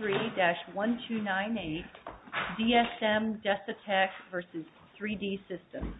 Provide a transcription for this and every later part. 3-1298 DSM Desotech v. 3D Systems 3-1298 DSM Desotech v. 3D Systems DSM Desotech v. 3D Systems 3-1298 DSM Desotech v. 3D Systems DSM Desotech v. 3D Systems DSM Desotech v. 3D Systems DSM Desotech v. 3D Systems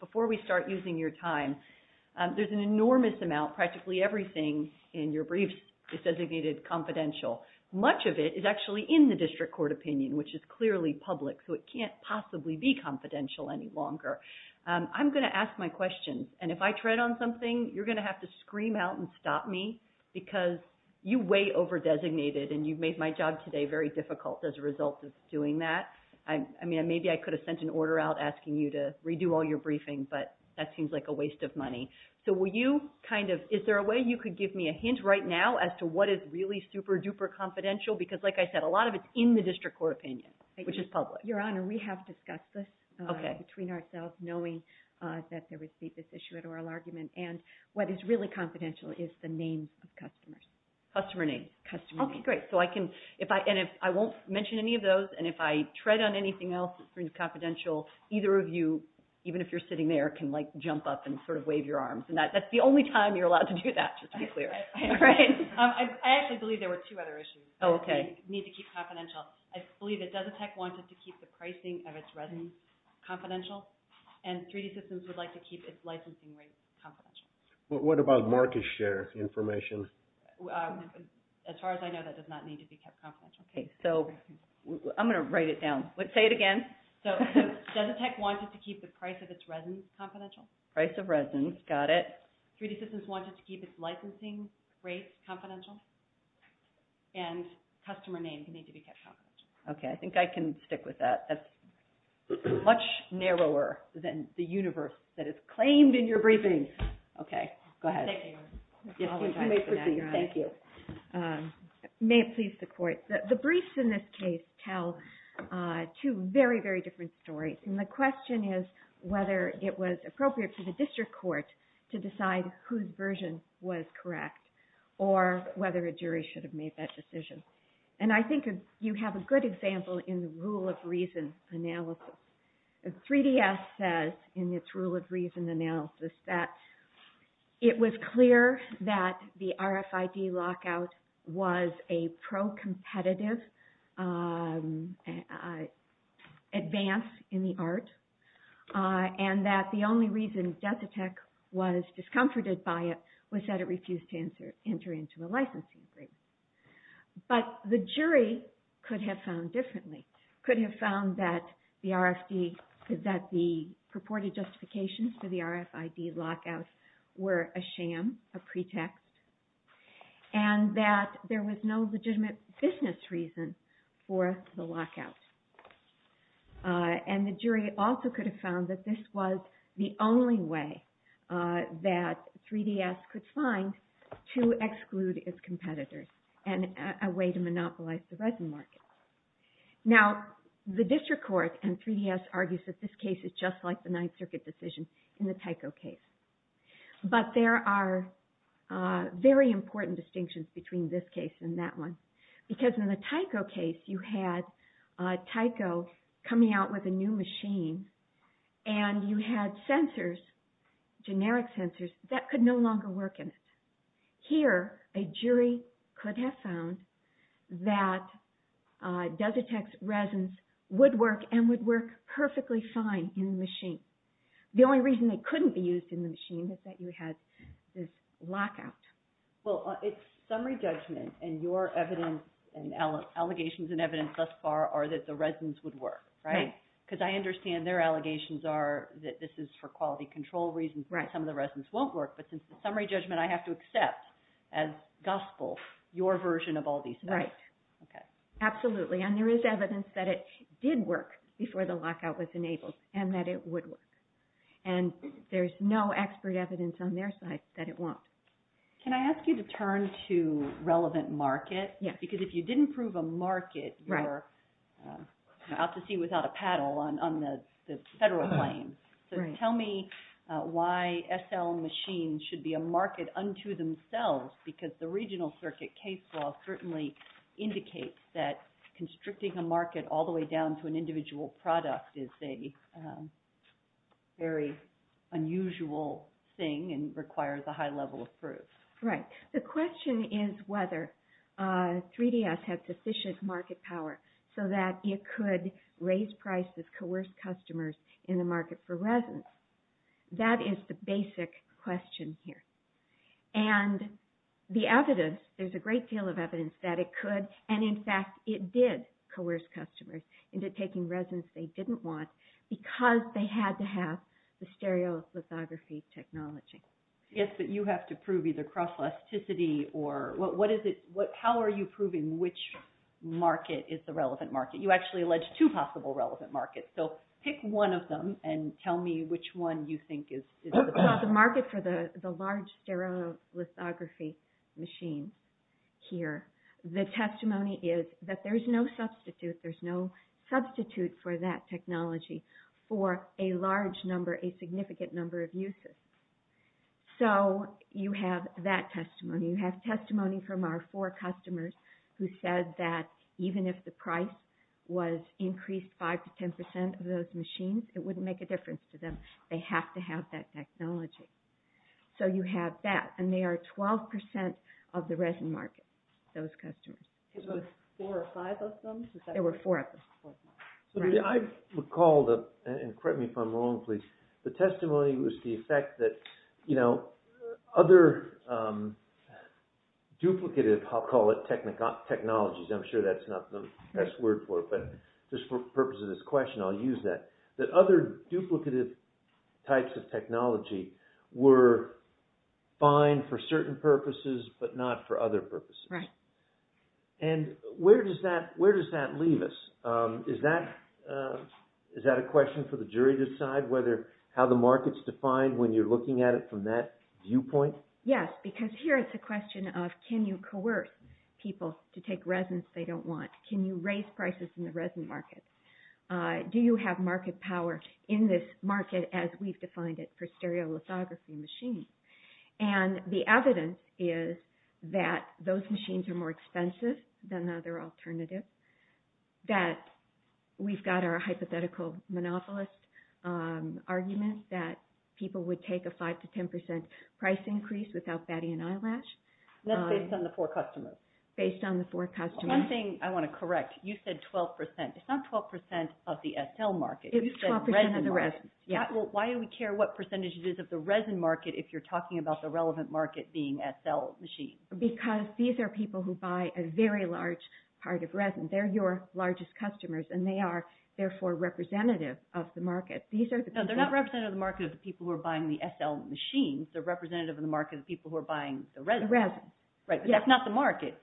Before we start using your time, there's an enormous amount, practically everything in your briefs is designated confidential. Much of it is actually in the district court opinion, which is clearly public, so it can't possibly be confidential any longer. I'm going to ask my questions, and if I tread on something, you're going to have to scream out and stop me, because you way over-designated, and you've made my job today very difficult as a result of doing that. Maybe I could have sent an order out asking you to redo all your briefings, but that seems like a waste of money. Is there a way you could give me a hint right now as to what is really super-duper confidential? Because like I said, a lot of it is in the district court opinion, which is public. Your Honor, we have discussed this between ourselves, knowing that there would be this issue at oral argument, and what is really confidential is the name of customers. Customer name. Okay, great. I won't mention any of those, and if I tread on anything else that seems confidential, either of you, even if you're sitting there, can jump up and wave your arms. That's the only time you're allowed to do that, just to be clear. I actually believe there were two other issues that need to keep confidential. I believe that Desitec wanted to keep the pricing of its resin confidential, and 3D Systems would like to keep its licensing rate confidential. What about market share information? As far as I know, that does not need to be kept confidential. Okay, so I'm going to write it down. Say it again. So Desitec wanted to keep the price of its resin confidential. Price of resin, got it. 3D Systems wanted to keep its licensing rate confidential, and customer names need to be kept confidential. Okay, I think I can stick with that. That's much narrower than the universe that is claimed in your briefings. Okay, go ahead. You may proceed. Thank you. May it please the Court. The briefs in this case tell two very, very different stories, and the question is whether it was appropriate for the district court to decide whose version was correct, or whether a jury should have made that decision. And I think you have a good example in the rule of reason analysis. 3DS says in its rule of reason analysis that it was clear that the RFID lockout was a pro-competitive advance in the art, and that the only reason Desitec was discomforted by it was that it refused to enter into a licensing rate. But the jury could have found differently. Could have found that the purported justifications for the RFID lockout were a sham, a pretext, and that there was no legitimate business reason for the lockout. And the jury also could have found that this was the only way that 3DS could find to exclude its competitors, and a way to monopolize the resin market. Now, the district court in 3DS argues that this case is just like the Ninth Circuit decision in the Tyco case. But there are very important distinctions between this case and that one. Because in the Tyco case, you had Tyco coming out with a new machine, and you had sensors, generic sensors, that could no longer work in it. Here, a jury could have found that Desitec's resins would work, and would work perfectly fine in the machine. The only reason they couldn't be used in the machine was that you had this lockout. Well, it's summary judgment, and your evidence, and allegations and evidence thus far are that the resins would work. Right? Because I understand their allegations are that this is for quality control reasons, that some of the resins won't work. But since it's summary judgment, I have to accept, as gospel, your version of all these things. Right. Absolutely. And there is evidence that it did work before the lockout was enabled, and that it would work. And there's no expert evidence on their side that it won't. Can I ask you to turn to relevant market? Yes. Because if you didn't prove a market, you're out to sea without a paddle on the federal plane. So tell me why SL machines should be a market unto themselves, because the regional circuit case law certainly indicates that constricting a market all the way down to an individual product is a very unusual thing and requires a high level of proof. Right. The question is whether 3DS has sufficient market power so that it could raise prices, coerce customers in the market for resins. That is the basic question here. And the evidence, there's a great deal of evidence that it could, and in fact it did coerce customers into taking resins they didn't want because they had to have the stereolithography technology. Yes, but you have to prove either cross-elasticity or what is it, how are you proving which market is the relevant market? You actually allege two possible relevant markets, so pick one of them and tell me which one you think is the best. The market for the large stereolithography machine here, the testimony is that there's no substitute, there's no substitute for that technology for a large number, a significant number of uses. So you have that testimony. You have testimony from our four customers who said that even if the price was increased 5% to 10% of those machines, it wouldn't make a difference to them. They have to have that technology. So you have that, and they are 12% of the resin market, those customers. There were four or five of them? There were four of them. I recall, and correct me if I'm wrong, please, the testimony was the effect that other duplicative, I'll call it technologies, I'm sure that's not the best word for it, but just for the purpose of this question I'll use that, that other duplicative types of technology were fine for certain purposes, but not for other purposes. Right. And where does that leave us? Is that a question for the jury to decide how the market's defined when you're looking at it from that viewpoint? Yes, because here it's a question of can you coerce people to take resins they don't want? Can you raise prices in the resin market? Do you have market power in this market as we've defined it for stereolithography machines? And the evidence is that those machines are more expensive than other alternatives, that we've got our hypothetical monopolist argument that people would take a 5% to 10% price increase without batting an eyelash. That's based on the four customers. Based on the four customers. One thing I want to correct, you said 12%. It's not 12% of the SL market. It's 12% of the resin. Why do we care what percentage it is of the resin market if you're talking about the relevant market being SL machines? Because these are people who buy a very large part of resin. They're your largest customers and they are therefore representative of the market. No, they're not representative of the market of the people who are buying the SL machines. They're representative of the market of the people who are buying the resin. Right, but that's not the market.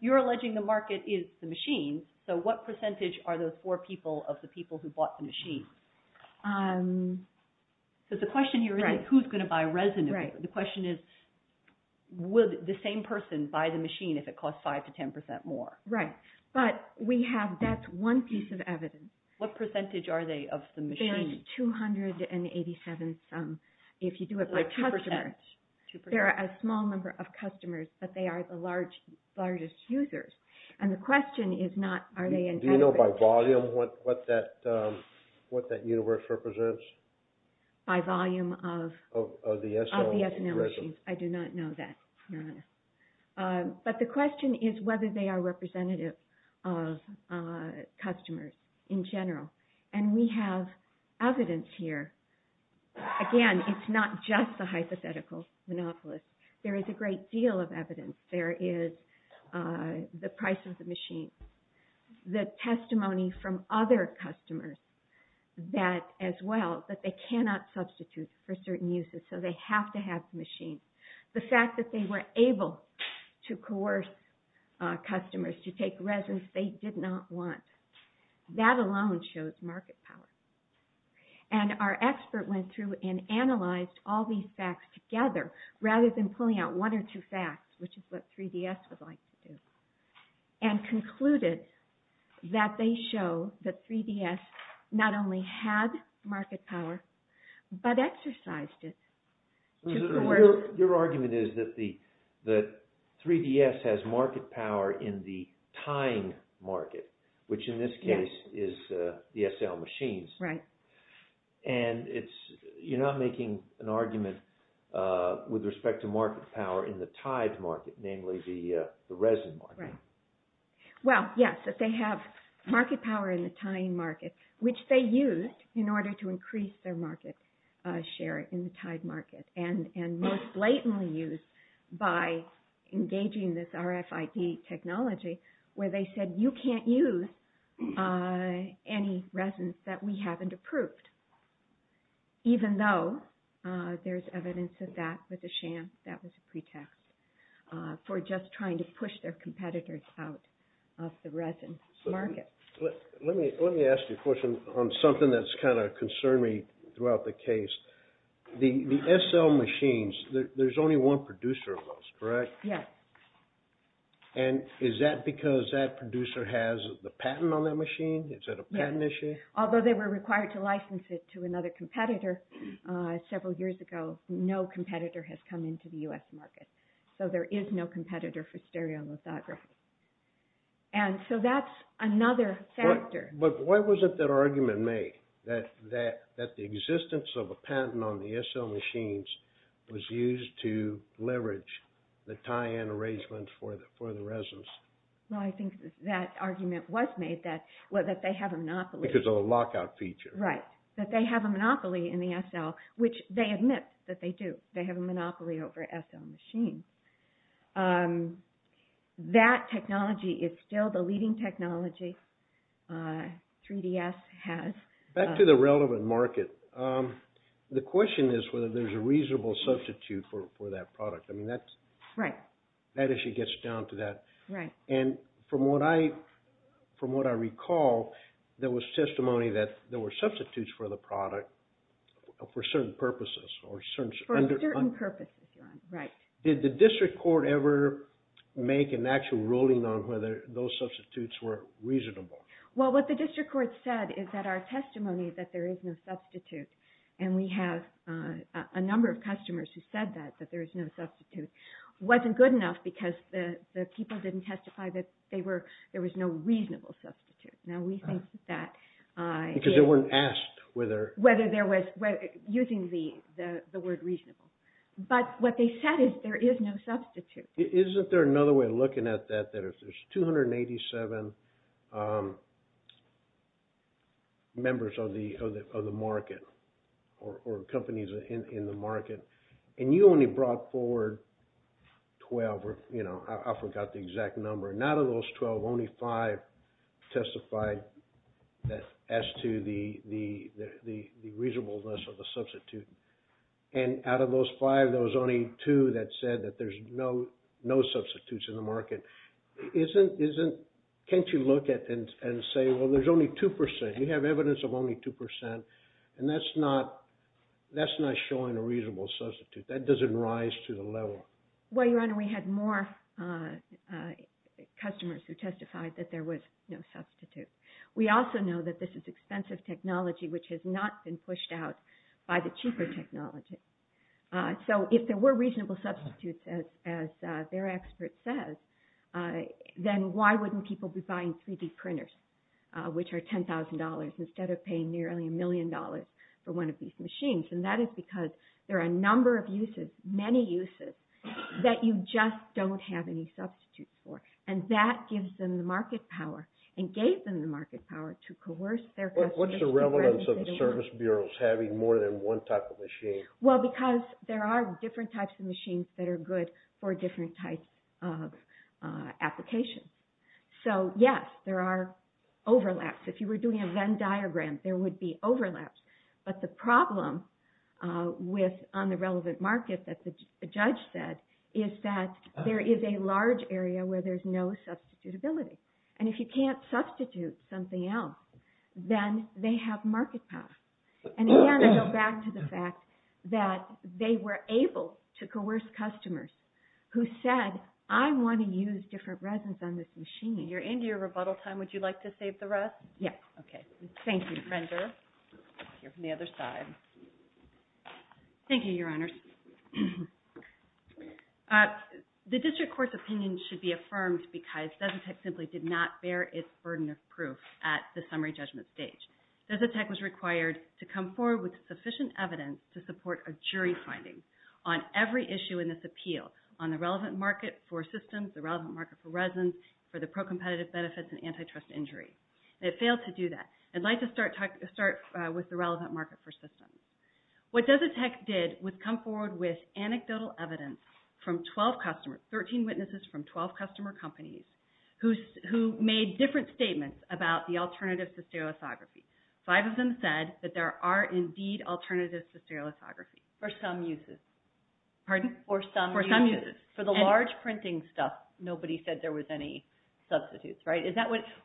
You're alleging the market is the machines, so what percentage are those four people of the people who bought the machines? The question here isn't who's going to buy resin. The question is, would the same person buy the machine if it cost 5% to 10% more? Right, but that's one piece of evidence. What percentage are they of the machines? There's 287 some, if you do it by customer. There are a small number of customers, but they are the largest users. And the question is not, are they... Do you know by volume what that universe represents? By volume of the SL machines. I do not know that, to be honest. But the question is whether they are representative of customers in general. And we have evidence here. Again, it's not just the hypothetical monopolist. There is a great deal of evidence. There is the price of the machines, the testimony from other customers as well, that they cannot substitute for certain uses, so they have to have the machines. The fact that they were able to coerce customers to take resins they did not want. That alone shows market power. And our expert went through and analyzed all these facts together, rather than pulling out one or two facts, which is what 3DS would like to do, and concluded that they show that 3DS not only had market power, but exercised it. Your argument is that 3DS has market power in the time market, which in this case is the SL machines. Right. And you're not making an argument with respect to market power in the time market, namely the resin market. Right. Well, yes, that they have market power in the time market, which they used in order to increase their market share in the time market, and most blatantly used by engaging this RFID technology, where they said, you can't use any resins that we haven't approved. Even though there's evidence of that with the sham, that was a pretext for just trying to push their competitors out of the resin market. Let me ask you a question on something that's kind of concerned me throughout the case. The SL machines, there's only one producer of those, correct? Yes. And is that because that producer has the patent on that machine? Is that a patent issue? Although they were required to license it to another competitor several years ago, no competitor has come into the US market. So there is no competitor for stereolithography. And so that's another factor. But why wasn't that argument made, that the existence of a patent on the SL machines was used to leverage the tie-in arrangements for the resins? Well, I think that argument was made that they have a monopoly. Because of a lockout feature. Right. That they have a monopoly in the SL, which they admit that they do. They have a monopoly over SL machines. That technology is still the leading technology 3DS has. Back to the relevant market, the question is whether there's a reasonable substitute for that product. I mean, that issue gets down to that. And from what I recall, there was testimony that there were substitutes for the product for certain purposes. For certain purposes, right. Did the district court ever make an actual ruling on whether those substitutes were reasonable? Well, what the district court said is that our testimony that there is no substitute, and we have a number of customers who said that, that there is no substitute, wasn't good enough because the people didn't testify that there was no reasonable substitute. Because they weren't asked whether. Whether there was, using the word reasonable. But what they said is there is no substitute. Isn't there another way of looking at that, that if there's 287 members of the market, or companies in the market, and you only brought forward 12, or I forgot the exact number. Not of those 12, only five testified as to the reasonableness of the substitute. And out of those five, there was only two that said that there's no substitutes in the market. Can't you look at it and say, well, there's only 2%. You have evidence of only 2%. And that's not showing a reasonable substitute. That doesn't rise to the level. Well, Your Honor, we had more customers who testified that there was no substitute. We also know that this is expensive technology, which has not been pushed out by the cheaper technology. So if there were reasonable substitutes, as their expert says, then why wouldn't people be buying 3D printers, which are $10,000, instead of paying nearly a million dollars for one of these machines? And that is because there are a number of uses, many uses, that you just don't have any substitutes for. And that gives them the market power, and gave them the market power to coerce their customers to buy 3D printers. What's the relevance of the service bureaus having more than one type of machine? Well, because there are different types of machines that are good for different types of applications. So yes, there are overlaps. If you were doing a Venn diagram, there would be overlaps. But the problem on the relevant market that the judge said is that there is a large area where there's no substitutability. And if you can't substitute something else, then they have market power. And again, I go back to the fact that they were able to coerce customers who said, I want to use different resins on this machine. You're into your rebuttal time. Would you like to save the rest? Yes. OK. Thank you, Brenda. Here from the other side. Thank you, Your Honors. The district court's opinion should be affirmed because Desitech simply did not bear its burden of proof at the summary judgment stage. Desitech was required to come forward with sufficient evidence to support a jury finding on every issue in this appeal on the relevant market for systems, the relevant market for resins, for the pro-competitive benefits and antitrust injuries. It failed to do that. I'd like to start with the relevant market for systems. What Desitech did was come forward with anecdotal evidence from 12 customers, 13 witnesses from 12 customer companies, who made different statements about the alternatives to stereolithography. Five of them said that there are indeed alternatives to stereolithography. For some uses. Pardon? For some uses. For some uses. For the large printing stuff, nobody said there was any substitutes, right?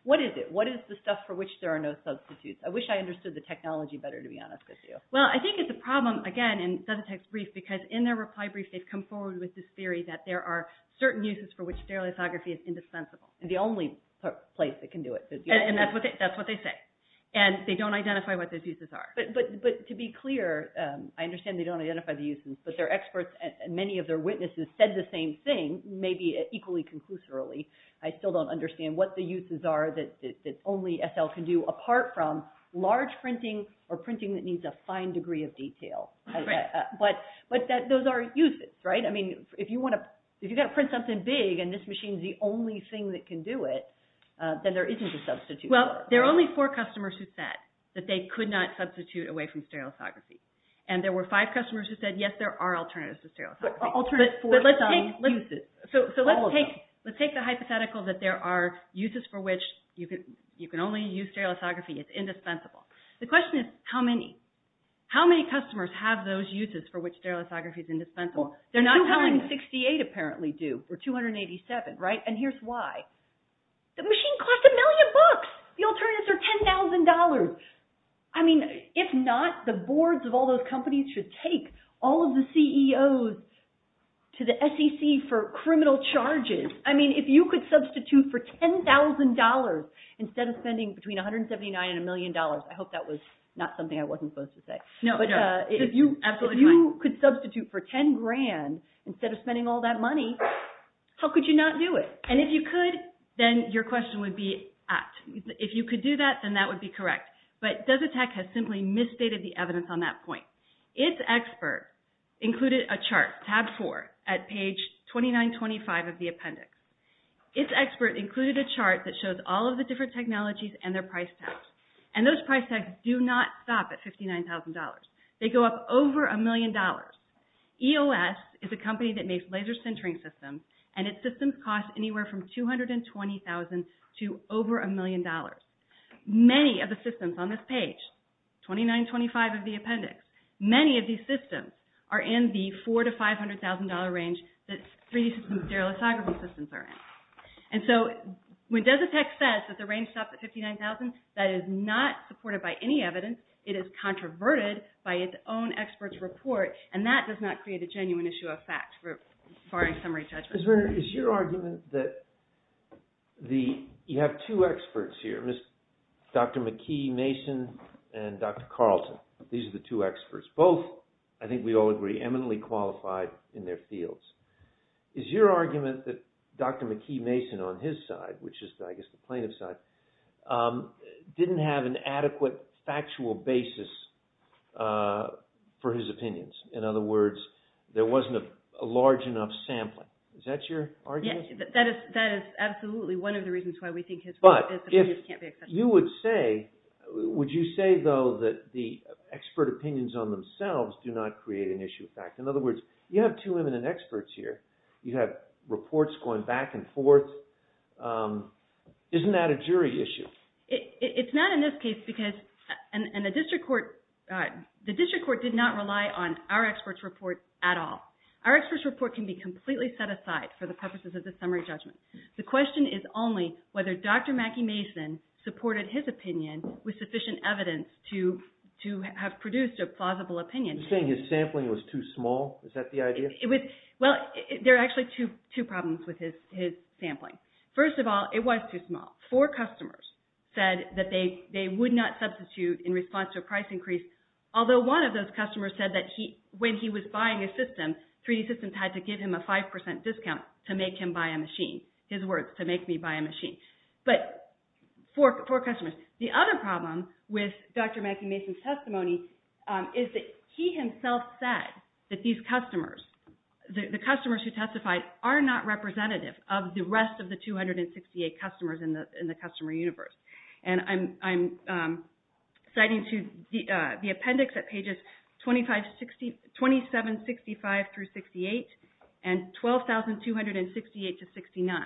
What is it? What is the stuff for which there are no substitutes? I wish I understood the technology better, to be honest with you. Well, I think it's a problem, again, in Desitech's brief, because in their reply brief, they've come forward with this theory that there are certain uses for which stereolithography is indispensable. The only place that can do it. And that's what they say. And they don't identify what those uses are. But to be clear, I understand they don't identify the uses, but their experts and many of their witnesses said the same thing, maybe equally conclusively. I still don't understand what the uses are that only SL can do apart from large printing or printing that needs a fine degree of detail. But those are uses, right? I mean, if you want to print something big and this machine is the only thing that can do it, then there isn't a substitute for it. Well, there are only four customers who said that they could not substitute away from stereolithography. And there were five customers who said, yes, there are alternatives to stereolithography. Alternatives for some uses. So let's take the hypothetical that there are uses for which you can only use stereolithography. It's indispensable. The question is, how many? How many customers have those uses for which stereolithography is indispensable? They're not telling us. 268 apparently do, or 287, right? And here's why. The machine costs a million bucks. The alternatives are $10,000. I mean, if not, the boards of all those companies should take all of the CEOs to the SEC for criminal charges. I mean, if you could substitute for $10,000 instead of spending between $179 and $1 million, I hope that was not something I wasn't supposed to say. No, no. If you could substitute for $10,000 instead of spending all that money, how could you not do it? And if you could, then your question would be at. If you could do that, then that would be correct. But DozeTech has simply misstated the evidence on that point. Its expert included a chart, tab four, at page 2925 of the appendix. Its expert included a chart that shows all of the different technologies and their price tags. And those price tags do not stop at $59,000. They go up over a million dollars. EOS is a company that makes laser sintering systems, and its systems cost anywhere from $220,000 to over a million dollars. Many of the systems on this page, 2925 of the appendix, many of these systems are in the $400,000 to $500,000 range that 3D system stereolithography systems are in. And so when DozeTech says that the range stops at $59,000, that is not supported by any evidence. It is controverted by its own expert's report, and that does not create a genuine issue of fact as far as summary judgment. Ms. Werner, is your argument that you have two experts here, Dr. McKee Mason and Dr. Carlton. These are the two experts. Both, I think we all agree, eminently qualified in their fields. Is your argument that Dr. McKee Mason on his side, which is I guess the plaintiff's side, didn't have an adequate factual basis for his opinions? In other words, there wasn't a large enough sampling. Is that your argument? Yes, that is absolutely one of the reasons why we think his work can't be accepted. But if you would say, would you say though that the expert opinions on themselves do not create an issue of fact? In other words, you have two eminent experts here. You have reports going back and forth. Isn't that a jury issue? It's not in this case because, and the district court did not rely on our expert's report at all. Our expert's report can be completely set aside for the purposes of the summary judgment. The question is only whether Dr. McKee Mason supported his opinion with sufficient evidence to have produced a plausible opinion. You're saying his sampling was too small? Is that the idea? Well, there are actually two problems with his sampling. First of all, it was too small. Four customers said that they would not substitute in response to a price increase, although one of those customers said that when he was buying a system, 3D Systems had to give him a 5% discount to make him buy a machine. His words, to make me buy a machine. But four customers. The other problem with Dr. McKee Mason's testimony is that he himself said that these customers, the customers who testified, are not representative of the rest of the 268 customers in the customer universe. And I'm citing to the appendix at pages 2765 through 68 and 12,268 to 69.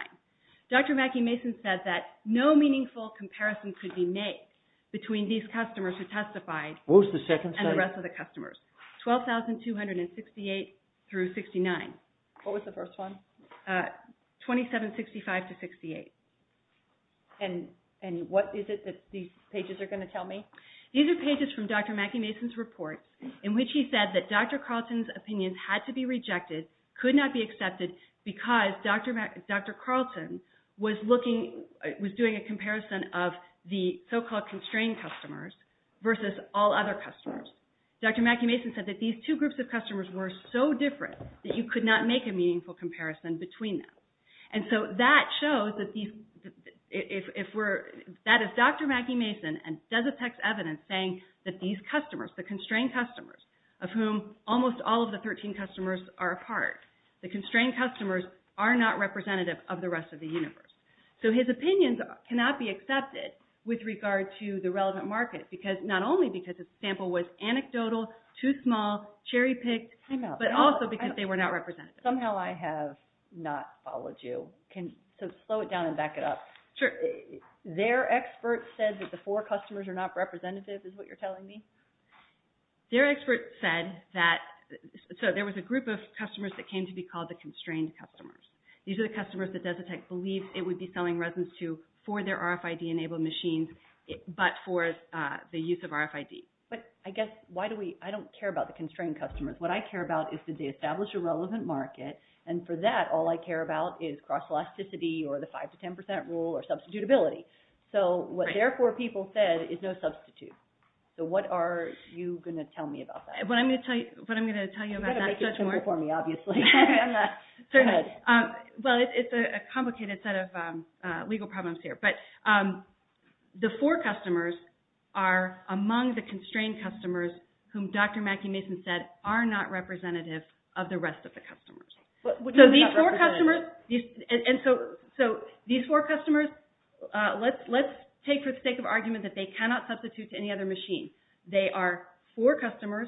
Dr. McKee Mason said that no meaningful comparison could be made between these customers who testified and the rest of the customers. 12,268 through 69. What was the first one? 2765 to 68. And what is it that these pages are going to tell me? These are pages from Dr. McKee Mason's report in which he said that Dr. Carlton's opinions had to be rejected, could not be accepted, because Dr. Carlton was doing a comparison of the so-called constrained customers versus all other customers. Dr. McKee Mason said that these two groups of customers were so different that you could not make a meaningful comparison between them. And so that shows that these, if we're, that is Dr. McKee Mason, and does a text evidence saying that these customers, the constrained customers, of whom almost all of the 13 customers are a part, the constrained customers are not representative of the rest of the universe. So his opinions cannot be accepted with regard to the relevant market, not only because the sample was anecdotal, too small, cherry-picked, but also because they were not representative. Somehow I have not followed you. So slow it down and back it up. Sure. Their expert said that the four customers are not representative is what you're telling me? Their expert said that, so there was a group of customers that came to be called the constrained customers. These are the customers that Desitec believed it would be selling resins to for their RFID-enabled machines, but for the use of RFID. But I guess, why do we, I don't care about the constrained customers. What I care about is did they establish a relevant market, and for that, all I care about is cross-elasticity or the five to 10% rule or substitutability. So what their four people said is no substitute. So what are you going to tell me about that? What I'm going to tell you about that... You've got to make it simple for me, obviously. Certainly. Well, it's a complicated set of legal problems here, but the four customers are among the constrained customers whom Dr. Mackey-Mason said are not representative of the rest of the customers. So these four customers, and so these four customers, let's take for the sake of argument that they cannot substitute to any other machine. They are four customers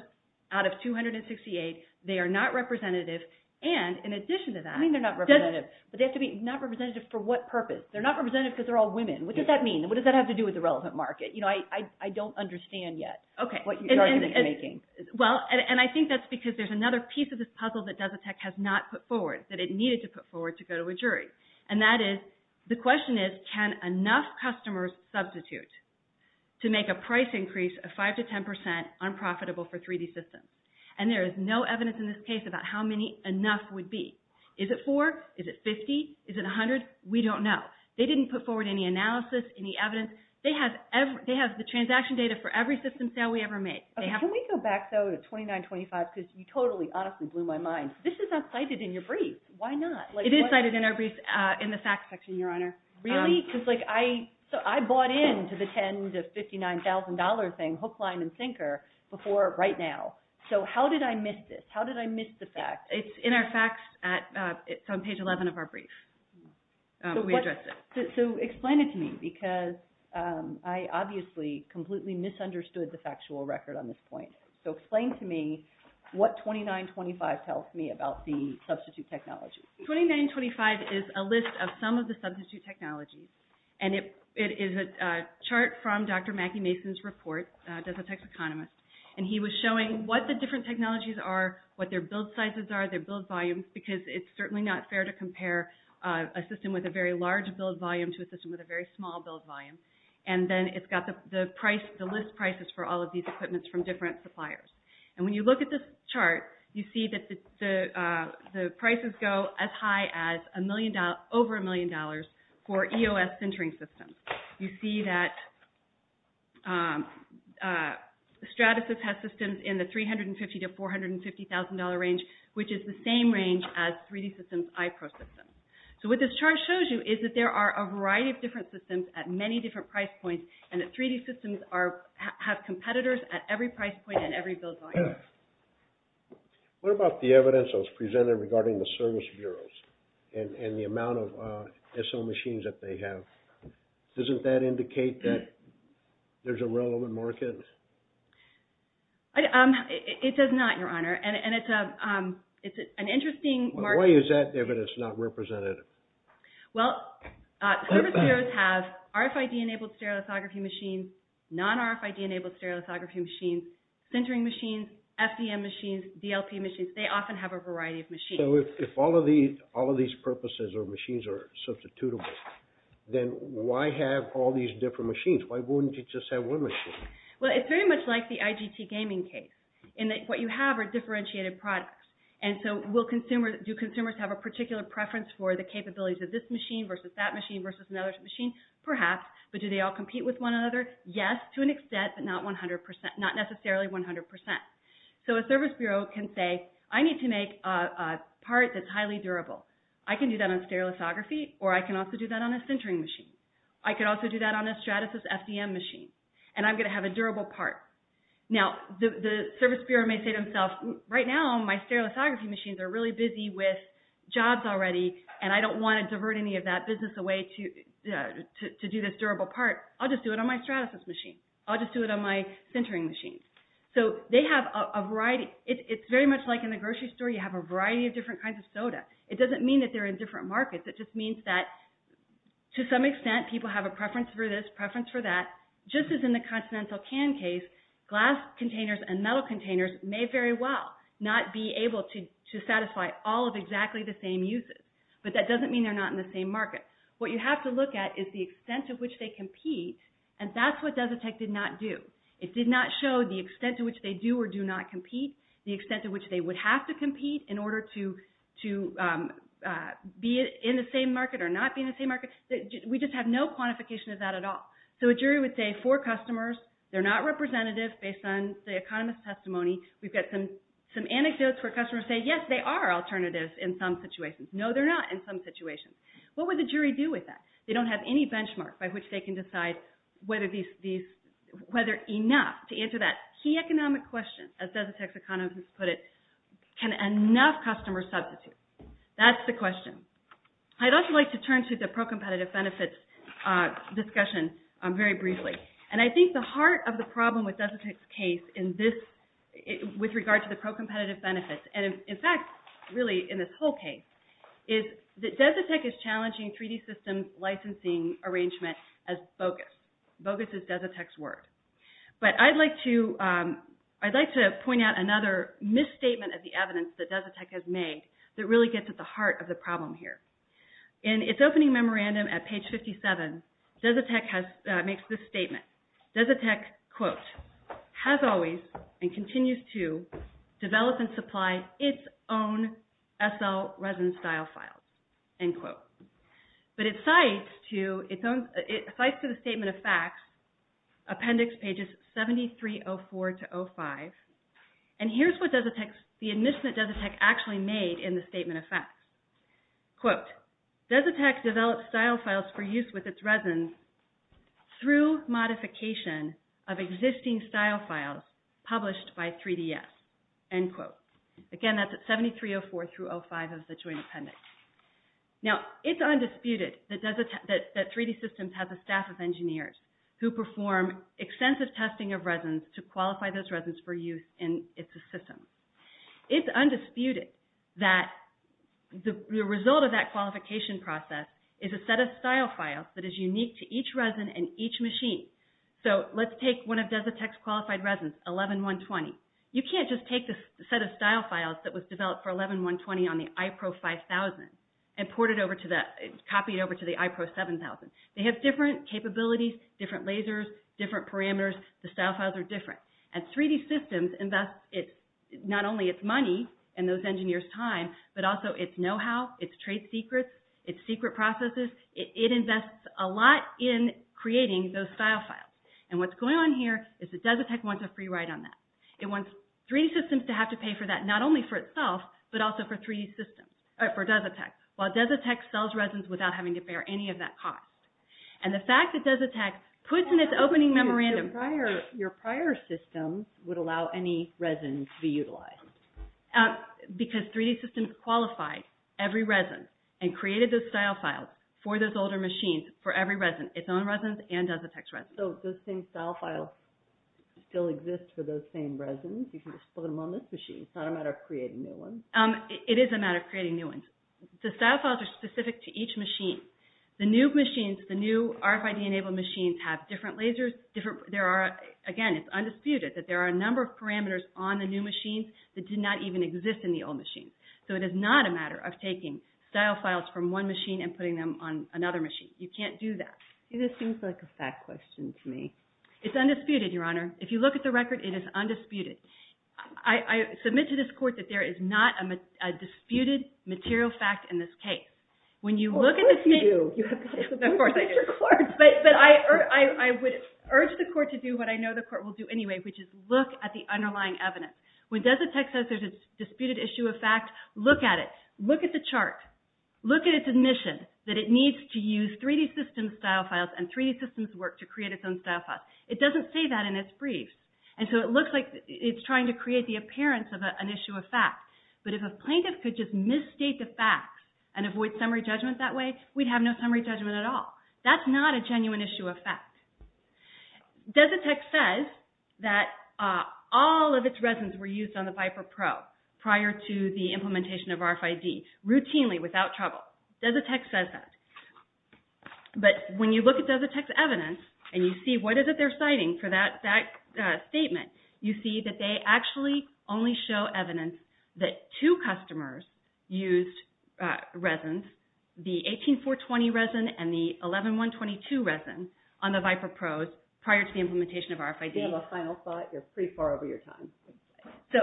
out of 268. They are not representative, and in addition to that... I mean, they're not representative, but they have to be not representative for what purpose? They're not representative because they're all women. What does that mean? What does that have to do with the relevant market? You know, I don't understand yet... Okay. ...what your argument is making. Well, and I think that's because there's another piece of this puzzle that Desitech has not put forward that it needed to put forward to go to a jury, and that is, the question is, can enough customers substitute to make a price increase of 5% to 10% unprofitable for 3D systems? And there is no evidence in this case about how many enough would be. Is it four? Is it 50? Is it 100? We don't know. They didn't put forward any analysis, any evidence. They have the transaction data for every system sale we ever made. Can we go back, though, to 2925? Because you totally, honestly blew my mind. This is not cited in your brief. Why not? It is cited in our brief in the facts section, Your Honor. Really? I bought in to the $10,000 to $59,000 thing, hook, line, and sinker, before right now. So how did I miss this? How did I miss the fact? It's in our facts. It's on page 11 of our brief. We addressed it. So explain it to me, because I obviously completely misunderstood the factual record on this point. So explain to me what 2925 tells me about the substitute technology. 2925 is a list of some of the substitute technologies and it is a chart from Dr. Mackie Mason's report as a tech economist. And he was showing what the different technologies are, what their build sizes are, their build volumes, because it's certainly not fair to compare a system with a very large build volume to a system with a very small build volume. And then it's got the list prices for all of these equipments from different suppliers. And when you look at this chart, you see that the prices go as high as over $1 million for EOS sintering systems. You see that Stratasys has systems in the $350,000 to $450,000 range, which is the same range as 3D Systems' iPro systems. So what this chart shows you is that there are a variety of different systems at many different price points, and that 3D Systems have competitors at every price point and every build volume. What about the evidence that was presented regarding the service bureaus and the amount of SO machines that they have? Doesn't that indicate that there's a relevant market? It does not, Your Honor. And it's an interesting market. Why is that evidence not representative? Well, service bureaus have RFID-enabled stereolithography machines, non-RFID-enabled stereolithography machines, sintering machines, FDM machines, DLP machines. They often have a variety of machines. So if all of these purposes or machines are substitutable, then why have all these different machines? Why wouldn't you just have one machine? Well, it's very much like the IGT gaming case in that what you have are differentiated products. And so do consumers have a particular preference for the capabilities of this machine versus that machine versus another machine? Perhaps. But do they all compete with one another? Yes, to an extent, but not necessarily 100%. So a service bureau can say, I need to make a part that's highly durable. I can do that on stereolithography, or I can also do that on a sintering machine. I can also do that on a Stratasys FDM machine, and I'm going to have a durable part. Now, the service bureau may say to themselves, right now, my stereolithography machines are really busy with jobs already, and I don't want to divert any of that business away to do this durable part. I'll just do it on my Stratasys machine. I'll just do it on my sintering machine. So they have a variety. It's very much like in the grocery store. You have a variety of different kinds of soda. It doesn't mean that they're in different markets. It just means that, to some extent, people have a preference for this, preference for that. Just as in the continental can case, glass containers and metal containers may very well not be able to satisfy all of exactly the same uses, but that doesn't mean they're not in the same market. What you have to look at is the extent to which they compete, and that's what Desitec did not do. It did not show the extent to which they do or do not compete, the extent to which they would have to compete in order to be in the same market or not be in the same market. We just have no quantification of that at all. So a jury would say, for customers, they're not representative based on the economist's testimony. We've got some anecdotes where customers say, yes, they are alternatives in some situations. No, they're not in some situations. What would the jury do with that? They don't have any benchmark by which they can decide whether enough to answer that key economic question, as Desitec's economist put it, can enough customers substitute. That's the question. I'd also like to turn to the pro-competitive benefits discussion very briefly. And I think the heart of the problem with Desitec's case in this, with regard to the pro-competitive benefits, and in fact, really in this whole case, is that Desitec is challenging treaty system licensing arrangement as bogus. Bogus is Desitec's word. But I'd like to point out another misstatement of the evidence that Desitec has made that really gets at the heart of the problem here. In its opening memorandum at page 57, Desitec makes this statement. Desitec, quote, has always and continues to develop and supply its own SL resin style files, end quote. But it cites to the statement of facts appendix pages 7304 to 05. And here's what Desitec, the admission that Desitec actually made in the statement of facts. Quote, Desitec developed style files for use with its resins through modification of existing style files published by 3DS, end quote. Again, that's at 7304 through 05 of the joint appendix. Now, it's undisputed that 3D Systems has a staff of engineers who perform extensive testing of resins to qualify those resins for use in its system. It's undisputed that the result of that qualification process is a set of style files that is unique to each resin and each machine. So let's take one of Desitec's qualified resins, 11120. You can't just take the set of style files that was developed for 11120 on the iPro 5000 and copy it over to the iPro 7000. They have different capabilities, different lasers, different parameters. The style files are different. And 3D Systems invests not only its money and those engineers' time, but also its know-how, its trade secrets, its secret processes. It invests a lot in creating those style files. And what's going on here is that Desitec wants a free ride on that. It wants 3D Systems to have to pay for that not only for itself, but also for 3D Systems, or for Desitec, while Desitec sells resins without having to bear any of that cost. And the fact that Desitec puts in its opening memorandum... Your prior systems would allow any resins to be utilized. Because 3D Systems qualified every resin and created those style files for those older machines for every resin, its own resins and Desitec's resins. So those same style files still exist for those same resins? You can just put them on this machine. It's not a matter of creating new ones? It is a matter of creating new ones. The style files are specific to each machine. The new machines, the new RFID-enabled machines have different lasers. Again, it's undisputed that there are a number of parameters on the new machines that did not even exist in the old machines. So it is not a matter of taking style files from one machine and putting them on another machine. You can't do that. This seems like a fat question to me. It's undisputed, Your Honor. If you look at the record, it is undisputed. I submit to this court that there is not a disputed material fact in this case. Of course you do. Of course I do. But I would urge the court to do what I know the court will do anyway, which is look at the underlying evidence. When Desitec says there's a disputed issue of fact, look at it. Look at the chart. Look at its admission that it needs to use 3D Systems style files and 3D Systems work to create its own style files. It doesn't say that in its briefs. And so it looks like it's trying to create the appearance of an issue of fact. But if a plaintiff could just misstate the facts and avoid summary judgment that way, we'd have no summary judgment at all. That's not a genuine issue of fact. Desitec says that all of its resins were used on the Viper Pro prior to the implementation of RFID, routinely, without trouble. Desitec says that. But when you look at Desitec's evidence and you see what is it they're citing for that statement, you see that they actually only show evidence that two customers used resins, the 18420 resin and the 11122 resin on the Viper Pros prior to the implementation of RFID. You have a final thought. You're pretty far over your time. So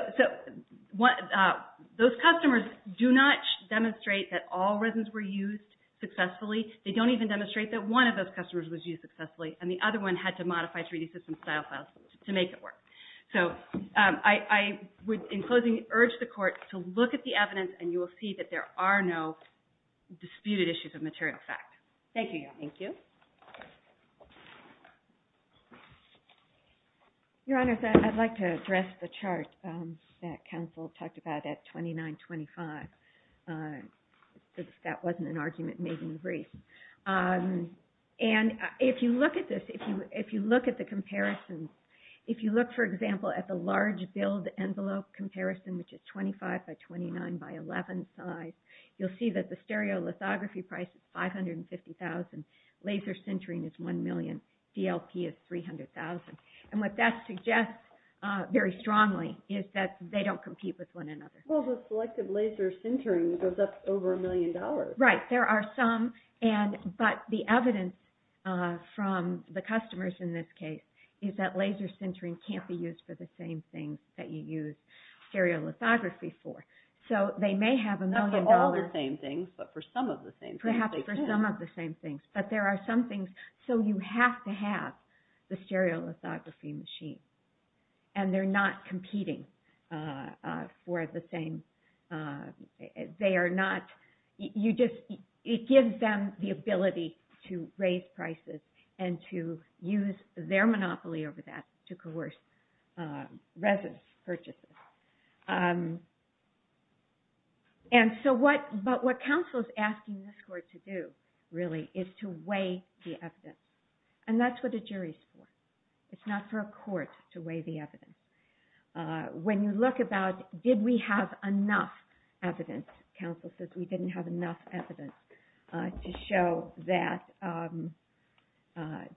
those customers do not demonstrate that all resins were used successfully. They don't even demonstrate that one of those customers was used successfully and the other one had to modify 3D system style files to make it work. So I would, in closing, urge the Court to look at the evidence and you will see that there are no disputed issues of material fact. Thank you, Your Honor. Thank you. Your Honor, I'd like to address the chart that counsel talked about at 2925. That wasn't an argument made in the brief. And if you look at this, if you look at the comparison, if you look, for example, at the large build envelope comparison, which is 25 by 29 by 11 size, you'll see that the stereolithography price is 550,000. Laser sintering is one million. DLP is 300,000. And what that suggests very strongly is that they don't compete with one another. Well, the selective laser sintering goes up over a million dollars. Right. There are some, but the evidence from the customers in this case is that laser sintering can't be used for the same things that you use stereolithography for. So they may have a million dollars. Not for all the same things, but for some of the same things. Perhaps for some of the same things. But there are some things. So you have to have the stereolithography machines. And they're not competing for the same, they are not, it gives them the ability to raise prices and to use their monopoly over that to coerce residence purchases. But what counsel is asking this court to do, really, is to weigh the evidence. And that's what a jury's for. It's not for a court to weigh the evidence. When you look about, did we have enough evidence, counsel says we didn't have enough evidence to show that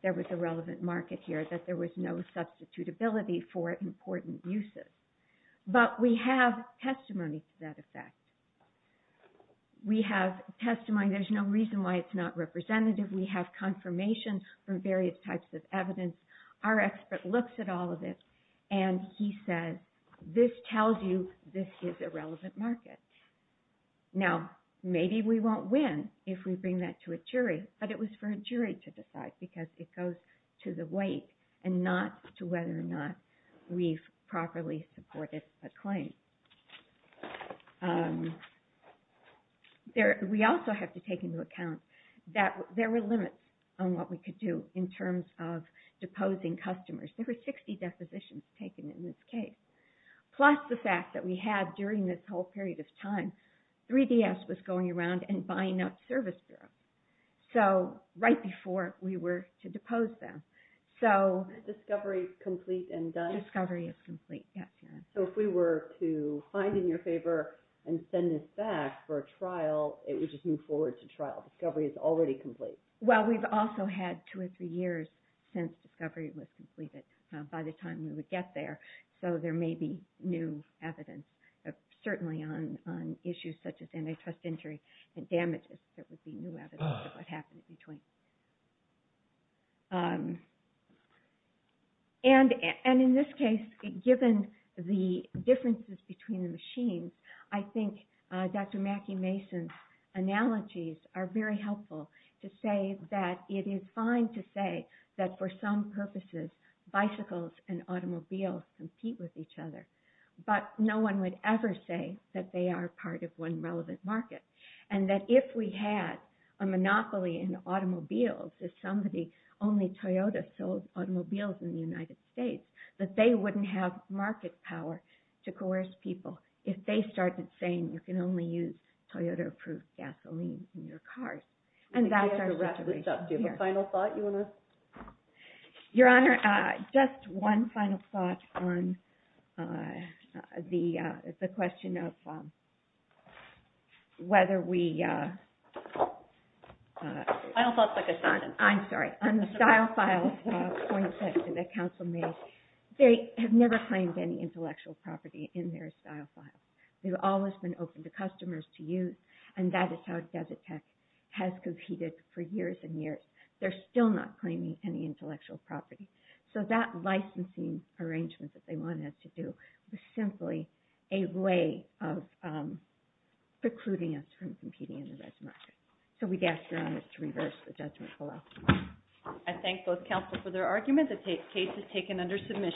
there was a relevant market here, that there was no substitutability for important uses. But we have testimony to that effect. We have testimony, there's no reason why it's not representative. We have confirmation from various types of evidence. Our expert looks at all of it and he says, this tells you this is a relevant market. Now, maybe we won't win if we bring that to a jury, but it was for a jury to decide because it goes to the weight and not to whether or not we've properly supported a claim. We also have to take into account that there were limits on what we could do in terms of deposing customers. There were 60 depositions taken in this case. Plus the fact that we had, during this whole period of time, 3DS was going around and buying up service bureaus, so right before we were to depose them. Discovery is complete and done? Discovery is complete, yes. So if we were to find in your favor and send this back for a trial, it would just move forward to trial. Discovery is already complete. Well, we've also had two or three years since Discovery was completed by the time we would get there, so there may be new evidence, certainly on issues such as antitrust injury and damages. There would be new evidence of what happened in between. And in this case, given the differences between the machines, I think Dr. Mackie Mason's analogies are very helpful to say that it is fine to say that for some purposes, bicycles and automobiles compete with each other, but no one would ever say that they are part of one relevant market. And that if we had a monopoly in automobiles, if somebody, only Toyota, sold automobiles in the United States, that they wouldn't have market power to coerce people if they started saying you can only use Toyota-approved gasoline in your cars. And that's our situation here. Do you have a final thought you want to... Your Honor, just one final thought on the question of whether we... I'm sorry. On the style file point that the counsel made, they have never claimed any intellectual property in their style file. They've always been open to customers to use, and that is how Desert Tech has competed for years and years. They're still not claiming any intellectual property. So that licensing arrangement that they wanted us to do was simply a way of precluding us from competing in the red market. So we'd ask Your Honor to reverse the judgment of the law. I thank both counsel for their argument. The case is taken under submission.